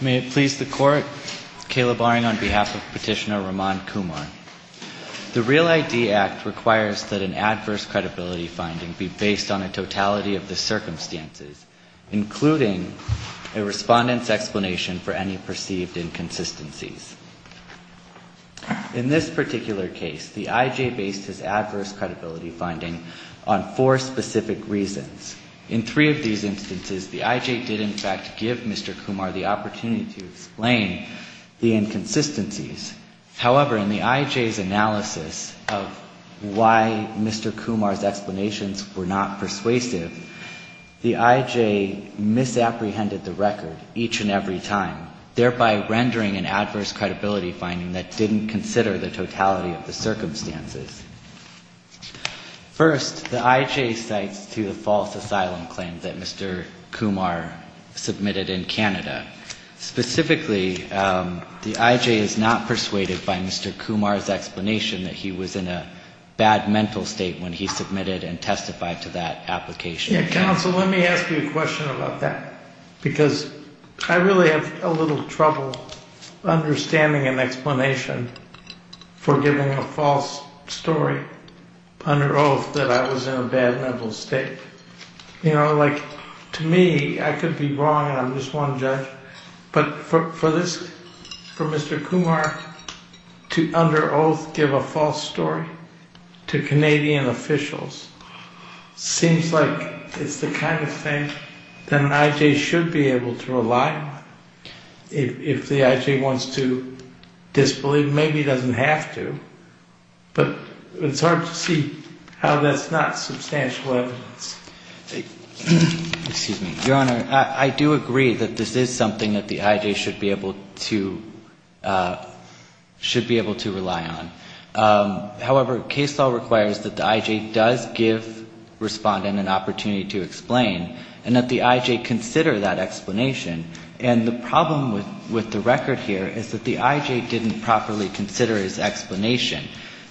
May it please the Court, Kayla Barring on behalf of Petitioner Raman Kumar. The REAL ID Act requires that an adverse credibility finding be based on a totality of the circumstances, including a respondent's explanation for any perceived inconsistencies. In this particular case, the I.J. based his adverse credibility finding on four specific reasons. In three of these instances, the I.J. did in fact give Mr. Kumar the opportunity to explain the inconsistencies. However, in the I.J.'s analysis of why Mr. Kumar's explanations were not persuasive, the I.J. misapprehended the record each and every time, thereby rendering an adverse credibility finding that didn't consider the totality of the circumstances. First, the I.J. cites two false asylum claims that Mr. Kumar submitted in Canada. Specifically, the I.J. is not persuaded by Mr. Kumar's explanation that he was in a bad mental state when he submitted and testified to that application. Yeah, counsel, let me ask you a question about that, because I really have a little trouble understanding an explanation for giving a false story under oath that I was in a bad mental state. You know, like, to me, I could be wrong and I'm just one judge, but for this, for Mr. Kumar to, under oath, give a false story to Canadian officials seems like it's the kind of thing that an I.J. should be able to rely on. If the I.J. wants to disbelieve, maybe he doesn't have to, but it's hard to see how that's not substantial evidence. Excuse me. Your Honor, I do agree that this is something that the I.J. should be able to, should be able to rely on. However, case law requires that the I.J. does give respondent an explanation and that the I.J. consider that explanation. And the problem with the record here is that the I.J. didn't properly consider his explanation.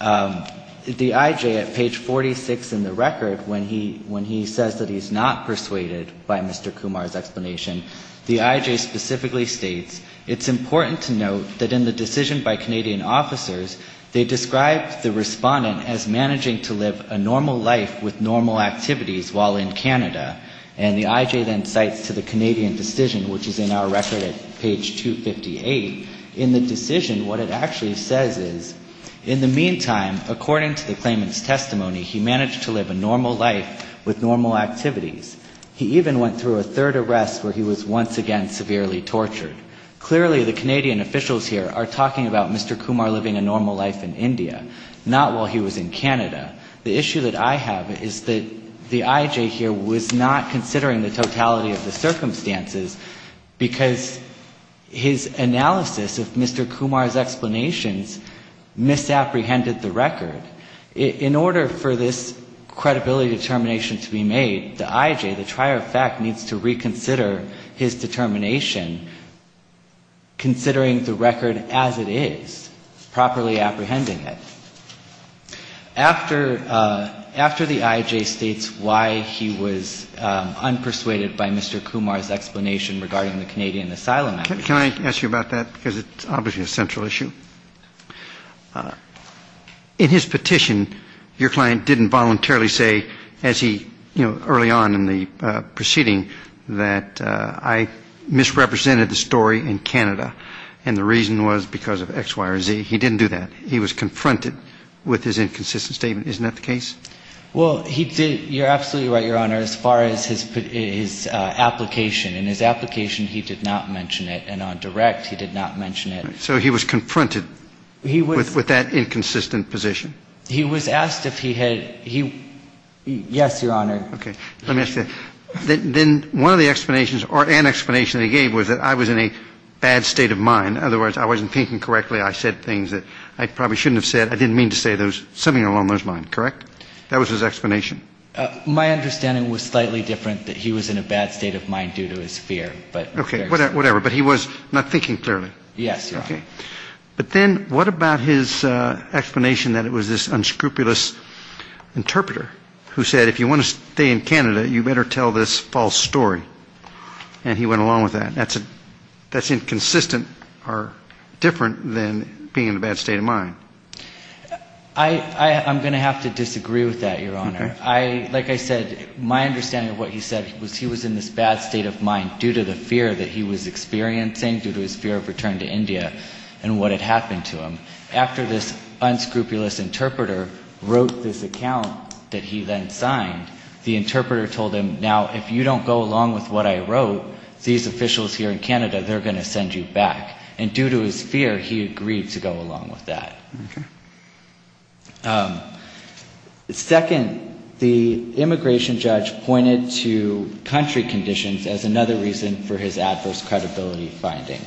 The I.J. at page 46 in the record, when he says that he's not persuaded by Mr. Kumar's explanation, the I.J. specifically states, it's important to note that in the decision by Canadian officers, they described the respondent as managing to live a normal life with normal activities while in Canada, and the I.J. then cites to the Canadian decision, which is in our record at page 258, in the decision, what it actually says is, in the meantime, according to the claimant's testimony, he managed to live a normal life with normal activities. He even went through a third arrest where he was once again severely tortured. Clearly the Canadian officials here are talking about Mr. Kumar living a normal life in India, not while he was in Canada. The issue that I have is that the I.J. here was not considering the totality of the circumstances, because his analysis of Mr. Kumar's explanations misapprehended the record. In order for this credibility determination to be made, the I.J., the trier of fact, needs to reconsider his determination, considering the record as it is, properly apprehended by Mr. Kumar. After the I.J. states why he was unpersuaded by Mr. Kumar's explanation regarding the Canadian asylum act... Can I ask you about that? Because it's obviously a central issue. In his petition, your client didn't voluntarily say, as he, you know, early on in the proceeding, that I misrepresented the story in Canada, and the reason was because of X, Y, or Z. So he didn't mention that. He was confronted with his inconsistent statement. Isn't that the case? Well, he did. You're absolutely right, Your Honor, as far as his application. In his application, he did not mention it. And on direct, he did not mention it. So he was confronted with that inconsistent position. He was asked if he had, yes, Your Honor. Okay. Let me ask you, then one of the explanations or an explanation he gave was that I was in a bad state of mind. Otherwise, I wasn't thinking correctly. I said things that I probably shouldn't have said. I didn't mean to say those. Something along those lines, correct? That was his explanation. My understanding was slightly different, that he was in a bad state of mind due to his fear. Okay. Whatever. But he was not thinking clearly. Yes, Your Honor. But then what about his explanation that it was this unscrupulous interpreter who said if you want to stay in Canada, you better tell this false story? And he went along with that. That's inconsistent or different than being in a bad state of mind. I'm going to have to disagree with that, Your Honor. Like I said, my understanding of what he said was he was in this bad state of mind due to the fear that he was experiencing, due to his fear of returning to Canada. Due to his fear of returning to India and what had happened to him. After this unscrupulous interpreter wrote this account that he then signed, the interpreter told him, now, if you don't go along with what I wrote, these officials here in Canada, they're going to send you back. And due to his fear, he agreed to go along with that. Second, the immigration judge pointed to country conditions as another reason for his adverse credibility finding.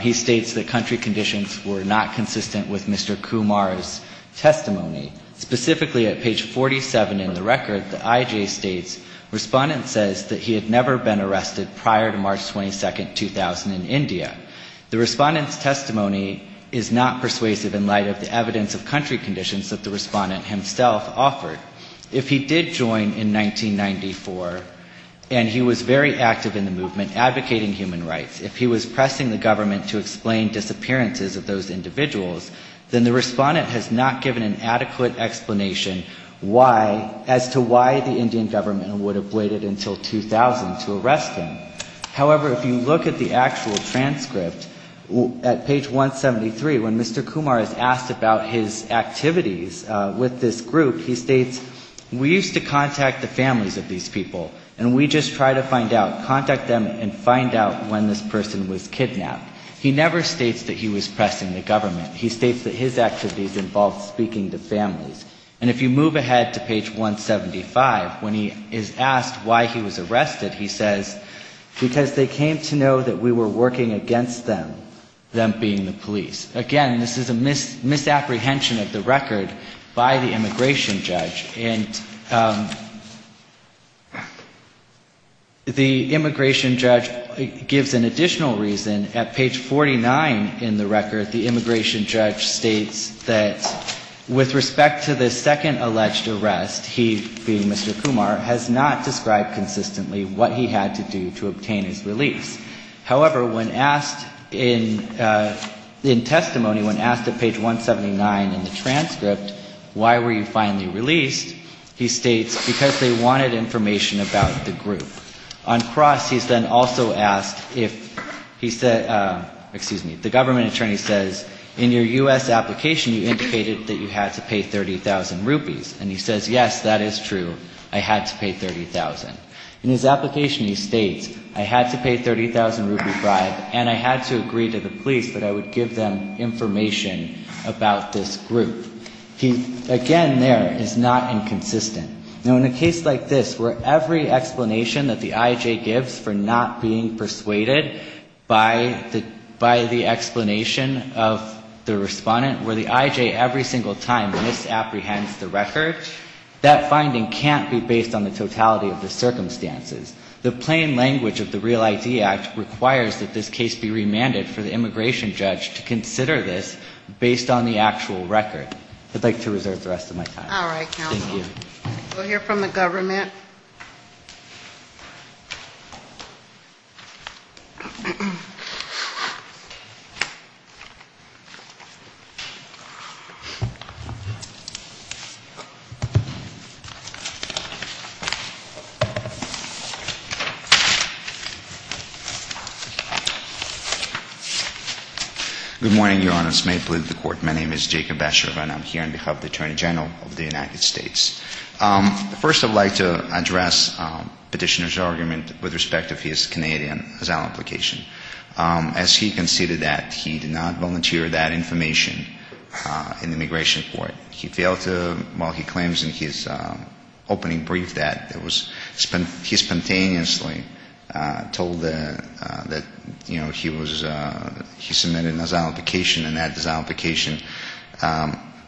He states that country conditions were not consistent with Mr. Kumar's testimony. Specifically, at page 47 in the record, the IJ states, Respondent says that he had never been arrested prior to March 22, 2000, in India. The Respondent's testimony is not persuasive in light of the evidence of country conditions that the Respondent himself offered. If he did join in 1994 and he was very active in the movement advocating human rights, if he was pressing the government to expel him from Canada, he would not have been arrested. If he did not explain disappearances of those individuals, then the Respondent has not given an adequate explanation why, as to why the Indian government would have waited until 2000 to arrest him. However, if you look at the actual transcript, at page 173, when Mr. Kumar is asked about his activities with this group, he states, we used to contact the families of these people, and we just try to find out, contact them and find out when this person was kidnapped. He never states that he was pressing the government. He states that his activities involved speaking to families. And if you move ahead to page 175, when he is asked why he was arrested, he says, because they came to know that we were working against them, them being the police. Again, this is a misapprehension of the record by the immigration judge. And the immigration judge gives an additional reason. At page 49 in the record, the immigration judge states that, with respect to the second alleged arrest, he, being Mr. Kumar, has not described consistently what he had to do to obtain his release. However, when asked in testimony, when asked at page 179 in the transcript, why were you finally released, the immigration judge states, because they came to know that we were working against them, them being the police. He states, because they wanted information about the group. On cross, he's then also asked if he said, excuse me, the government attorney says, in your U.S. application, you indicated that you had to pay 30,000 rupees. And he says, yes, that is true. I had to pay 30,000. In his application, he states, I had to pay 30,000 rupee bribe, and I had to agree to the police that I would give them information about this group. He, again, there, is not inconsistent. Now, in a case like this, where every explanation that the I.J. gives for not being persuaded by the explanation of the respondent, where the I.J. every single time misapprehends the record, that finding can't be based on the totality of the circumstances. The plain language of the Real ID Act requires that this case be remanded for the immigration judge to consider this based on the actual record. I would like to reserve the rest of my time. Thank you. We'll hear from the government. Good morning, Your Honors. May it please the Court. My name is Jacob Basher, and I'm here on behalf of the Attorney General of the United States. First, I would like to address Petitioner's argument with respect to his Canadian asylum application. As he considered that, he did not volunteer that information in the immigration court. He failed to, while he claims in his opening brief that it was, he spontaneously told that, you know, he was, he submitted an asylum application, and that asylum application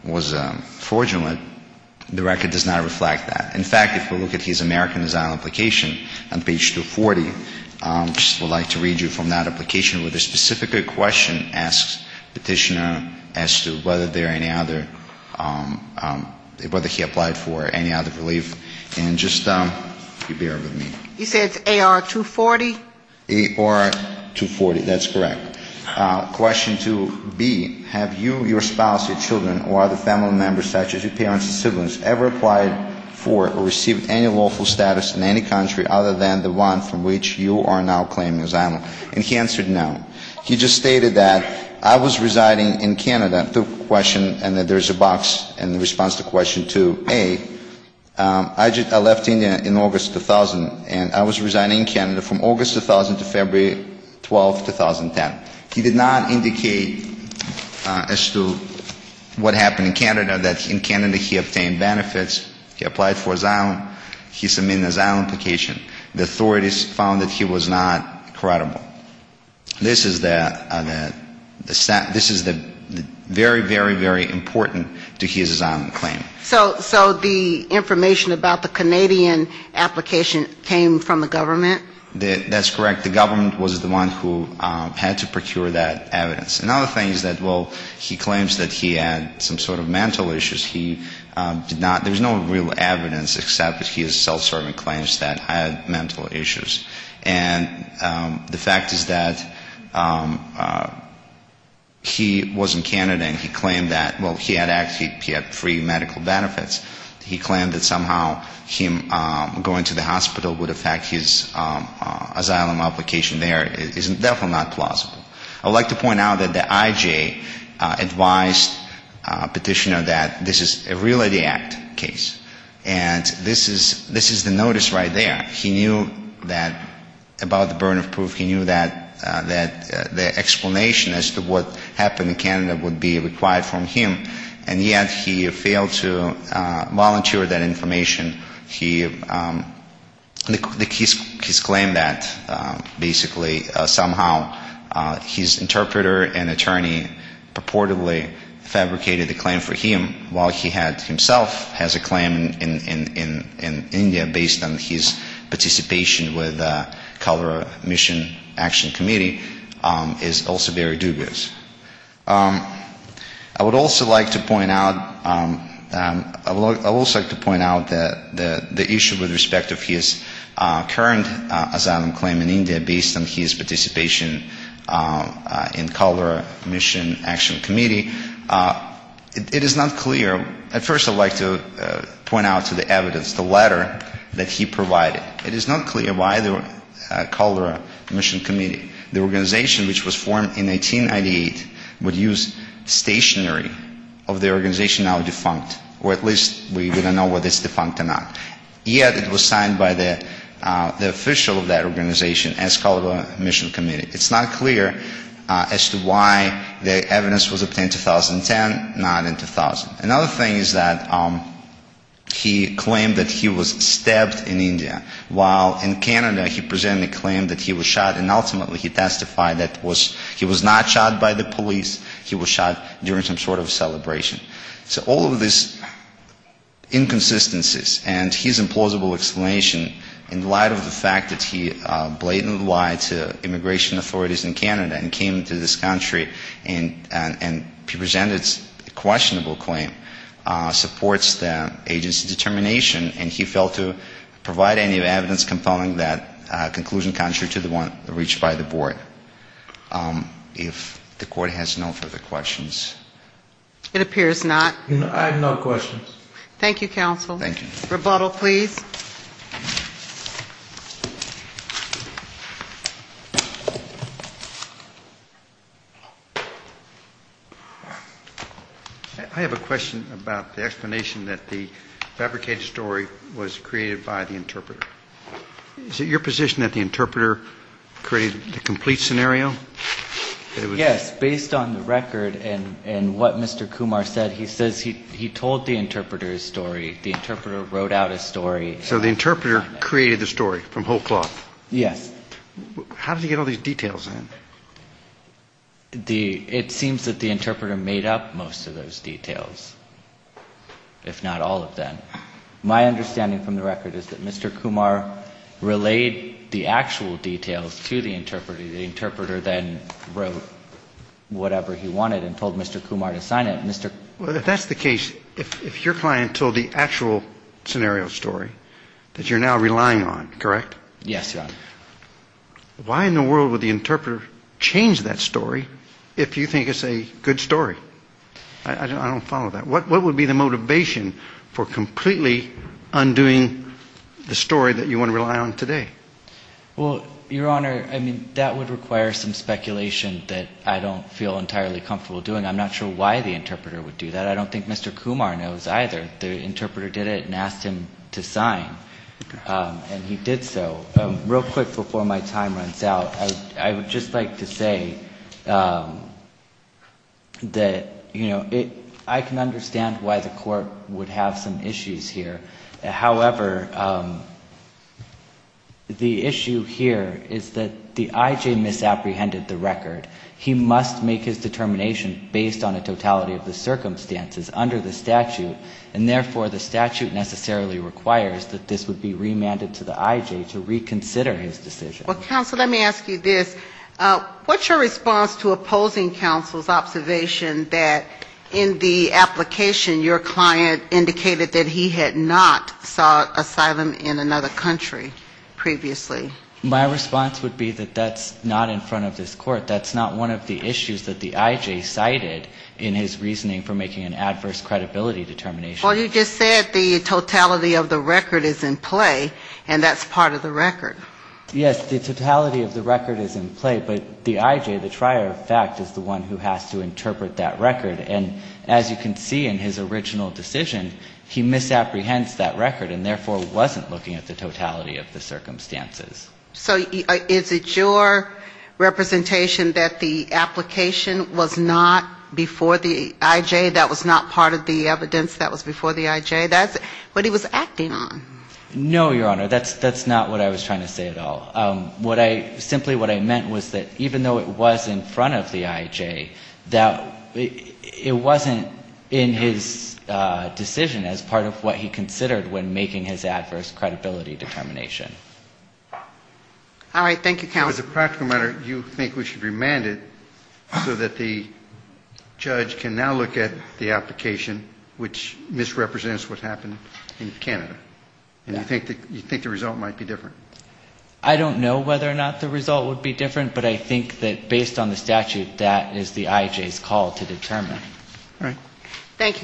was fraudulent. The record does not reflect that. In fact, if we look at his American asylum application on page 240, I would just like to read you from that application with a specific question asked Petitioner as to whether there are any other, whether he applied for any other relief. And just bear with me. He said AR-240? AR-240, that's correct. Question 2B, have you, your spouse, your children, or other family members, such as your parents and siblings, ever applied for asylum? Or received any lawful status in any country other than the one from which you are now claiming asylum? And he answered no. He just stated that I was residing in Canada, the question, and there's a box in response to question 2A, I left India in August 2000, and I was residing in Canada from August 2000 to February 12, 2010. He did not indicate as to what happened in Canada, that in Canada he obtained benefits, he applied for asylum, he submitted his asylum application. The authorities found that he was not credible. This is the very, very, very important to his asylum claim. So the information about the Canadian application came from the government? That's correct. The government was the one who had to procure that evidence. Another thing is that, well, he claims that he had some sort of mental issues. He did not, there's no real evidence except his self-serving claims that he had mental issues. And the fact is that he was in Canada and he claimed that, well, he had free medical benefits. He claimed that somehow him going to the hospital would affect his asylum application there. It's definitely not plausible. I would like to point out that the IJ advised Petitioner that this is a real ID act case. And this is the notice right there. He knew that, about the burden of proof, he knew that the explanation as to what happened in Canada would be required from him, and yet he failed to volunteer that information. He, his claim that basically somehow he was in Canada and he claimed that, well, he had free medical benefits. His interpreter and attorney purportedly fabricated the claim for him while he had himself has a claim in India based on his participation with the Colorado Mission Action Committee is also very dubious. I would also like to point out, I would also like to point out that the issue with respect of his current asylum claim in India based on his participation in Colorado Mission Action Committee, it is not clear. At first I would like to point out to the evidence, the letter that he provided. It is not clear why the Colorado Mission Committee, the organization which was formed in 1898, would use stationary of the organization now defunct, or at least we don't know whether it's defunct or not. Yet it was signed by the official of that organization as to why the evidence was obtained in 2010, not in 2000. Another thing is that he claimed that he was stabbed in India, while in Canada he presented a claim that he was shot, and ultimately he testified that he was not shot by the police, he was shot during some sort of celebration. So all of this inconsistencies and his implausible explanation in light of the fact that he blatantly lied to immigration authorities in Canada, in Canada, in the United States, in Canada, came to this country and presented a questionable claim, supports the agency determination, and he failed to provide any evidence compelling that conclusion contrary to the one reached by the board. If the Court has no further questions. It appears not. I have no questions. Thank you, counsel. Rebuttal, please. I have a question about the explanation that the fabricated story was created by the interpreter. Is it your position that the interpreter created the complete scenario? Yes, based on the record and what Mr. Kumar said, he says he told the interpreter his story, the interpreter wrote out his story. So the interpreter created the story from whole cloth? Yes. How did he get all these details in? It seems that the interpreter made up most of those details, if not all of them. My understanding from the record is that Mr. Kumar relayed the actual story and then wrote whatever he wanted and told Mr. Kumar to sign it. If that's the case, if your client told the actual scenario story that you're now relying on, correct? Yes, Your Honor. Why in the world would the interpreter change that story if you think it's a good story? I don't follow that. What would be the motivation for completely undoing the story that you want to rely on today? Well, Your Honor, I mean, that would require some speculation that I don't feel entirely comfortable doing. I'm not sure why the interpreter would do that. I don't think Mr. Kumar knows either. The interpreter did it and asked him to sign. And he did so. Real quick before my time runs out, I would just like to say that, you know, I can understand why the court would have some issues here. However, the issue here is that the I.J. misapprehended the record. He must make his determination based on a totality of the circumstances under the statute, and therefore the statute necessarily requires that this would be remanded to the I.J. to reconsider his decision. Well, counsel, let me ask you this. What's your response to opposing counsel's observation that in the application your client indicated that he had not sought asylum in another country previously? My response would be that that's not in front of this court. That's not one of the issues that the I.J. cited in his reasoning for making an adverse credibility determination. Well, you just said the totality of the record is in play, and that's part of the record. Yes, the totality of the record is in play, but the I.J., the trier of fact, is the one who has to interpret that record. And as you can see in his original decision, he misapprehends that record and therefore wasn't looking at the totality of the circumstances. So is it your representation that the application was not before the I.J.? That was not part of the evidence that was before the I.J.? That's what he was acting on. No, Your Honor. That's not what I was trying to say at all. Simply what I meant was that even though it was in front of the I.J., that it wasn't in his decision as part of what he considered when making his adverse credibility determination. All right. Thank you, counsel. As a practical matter, you think we should remand it so that the judge can now look at the application, which misrepresents what happened in Canada? And you think the result might be different? I don't know whether or not the result would be different, but I think that based on the statute, that is the I.J.'s call to determine. All right.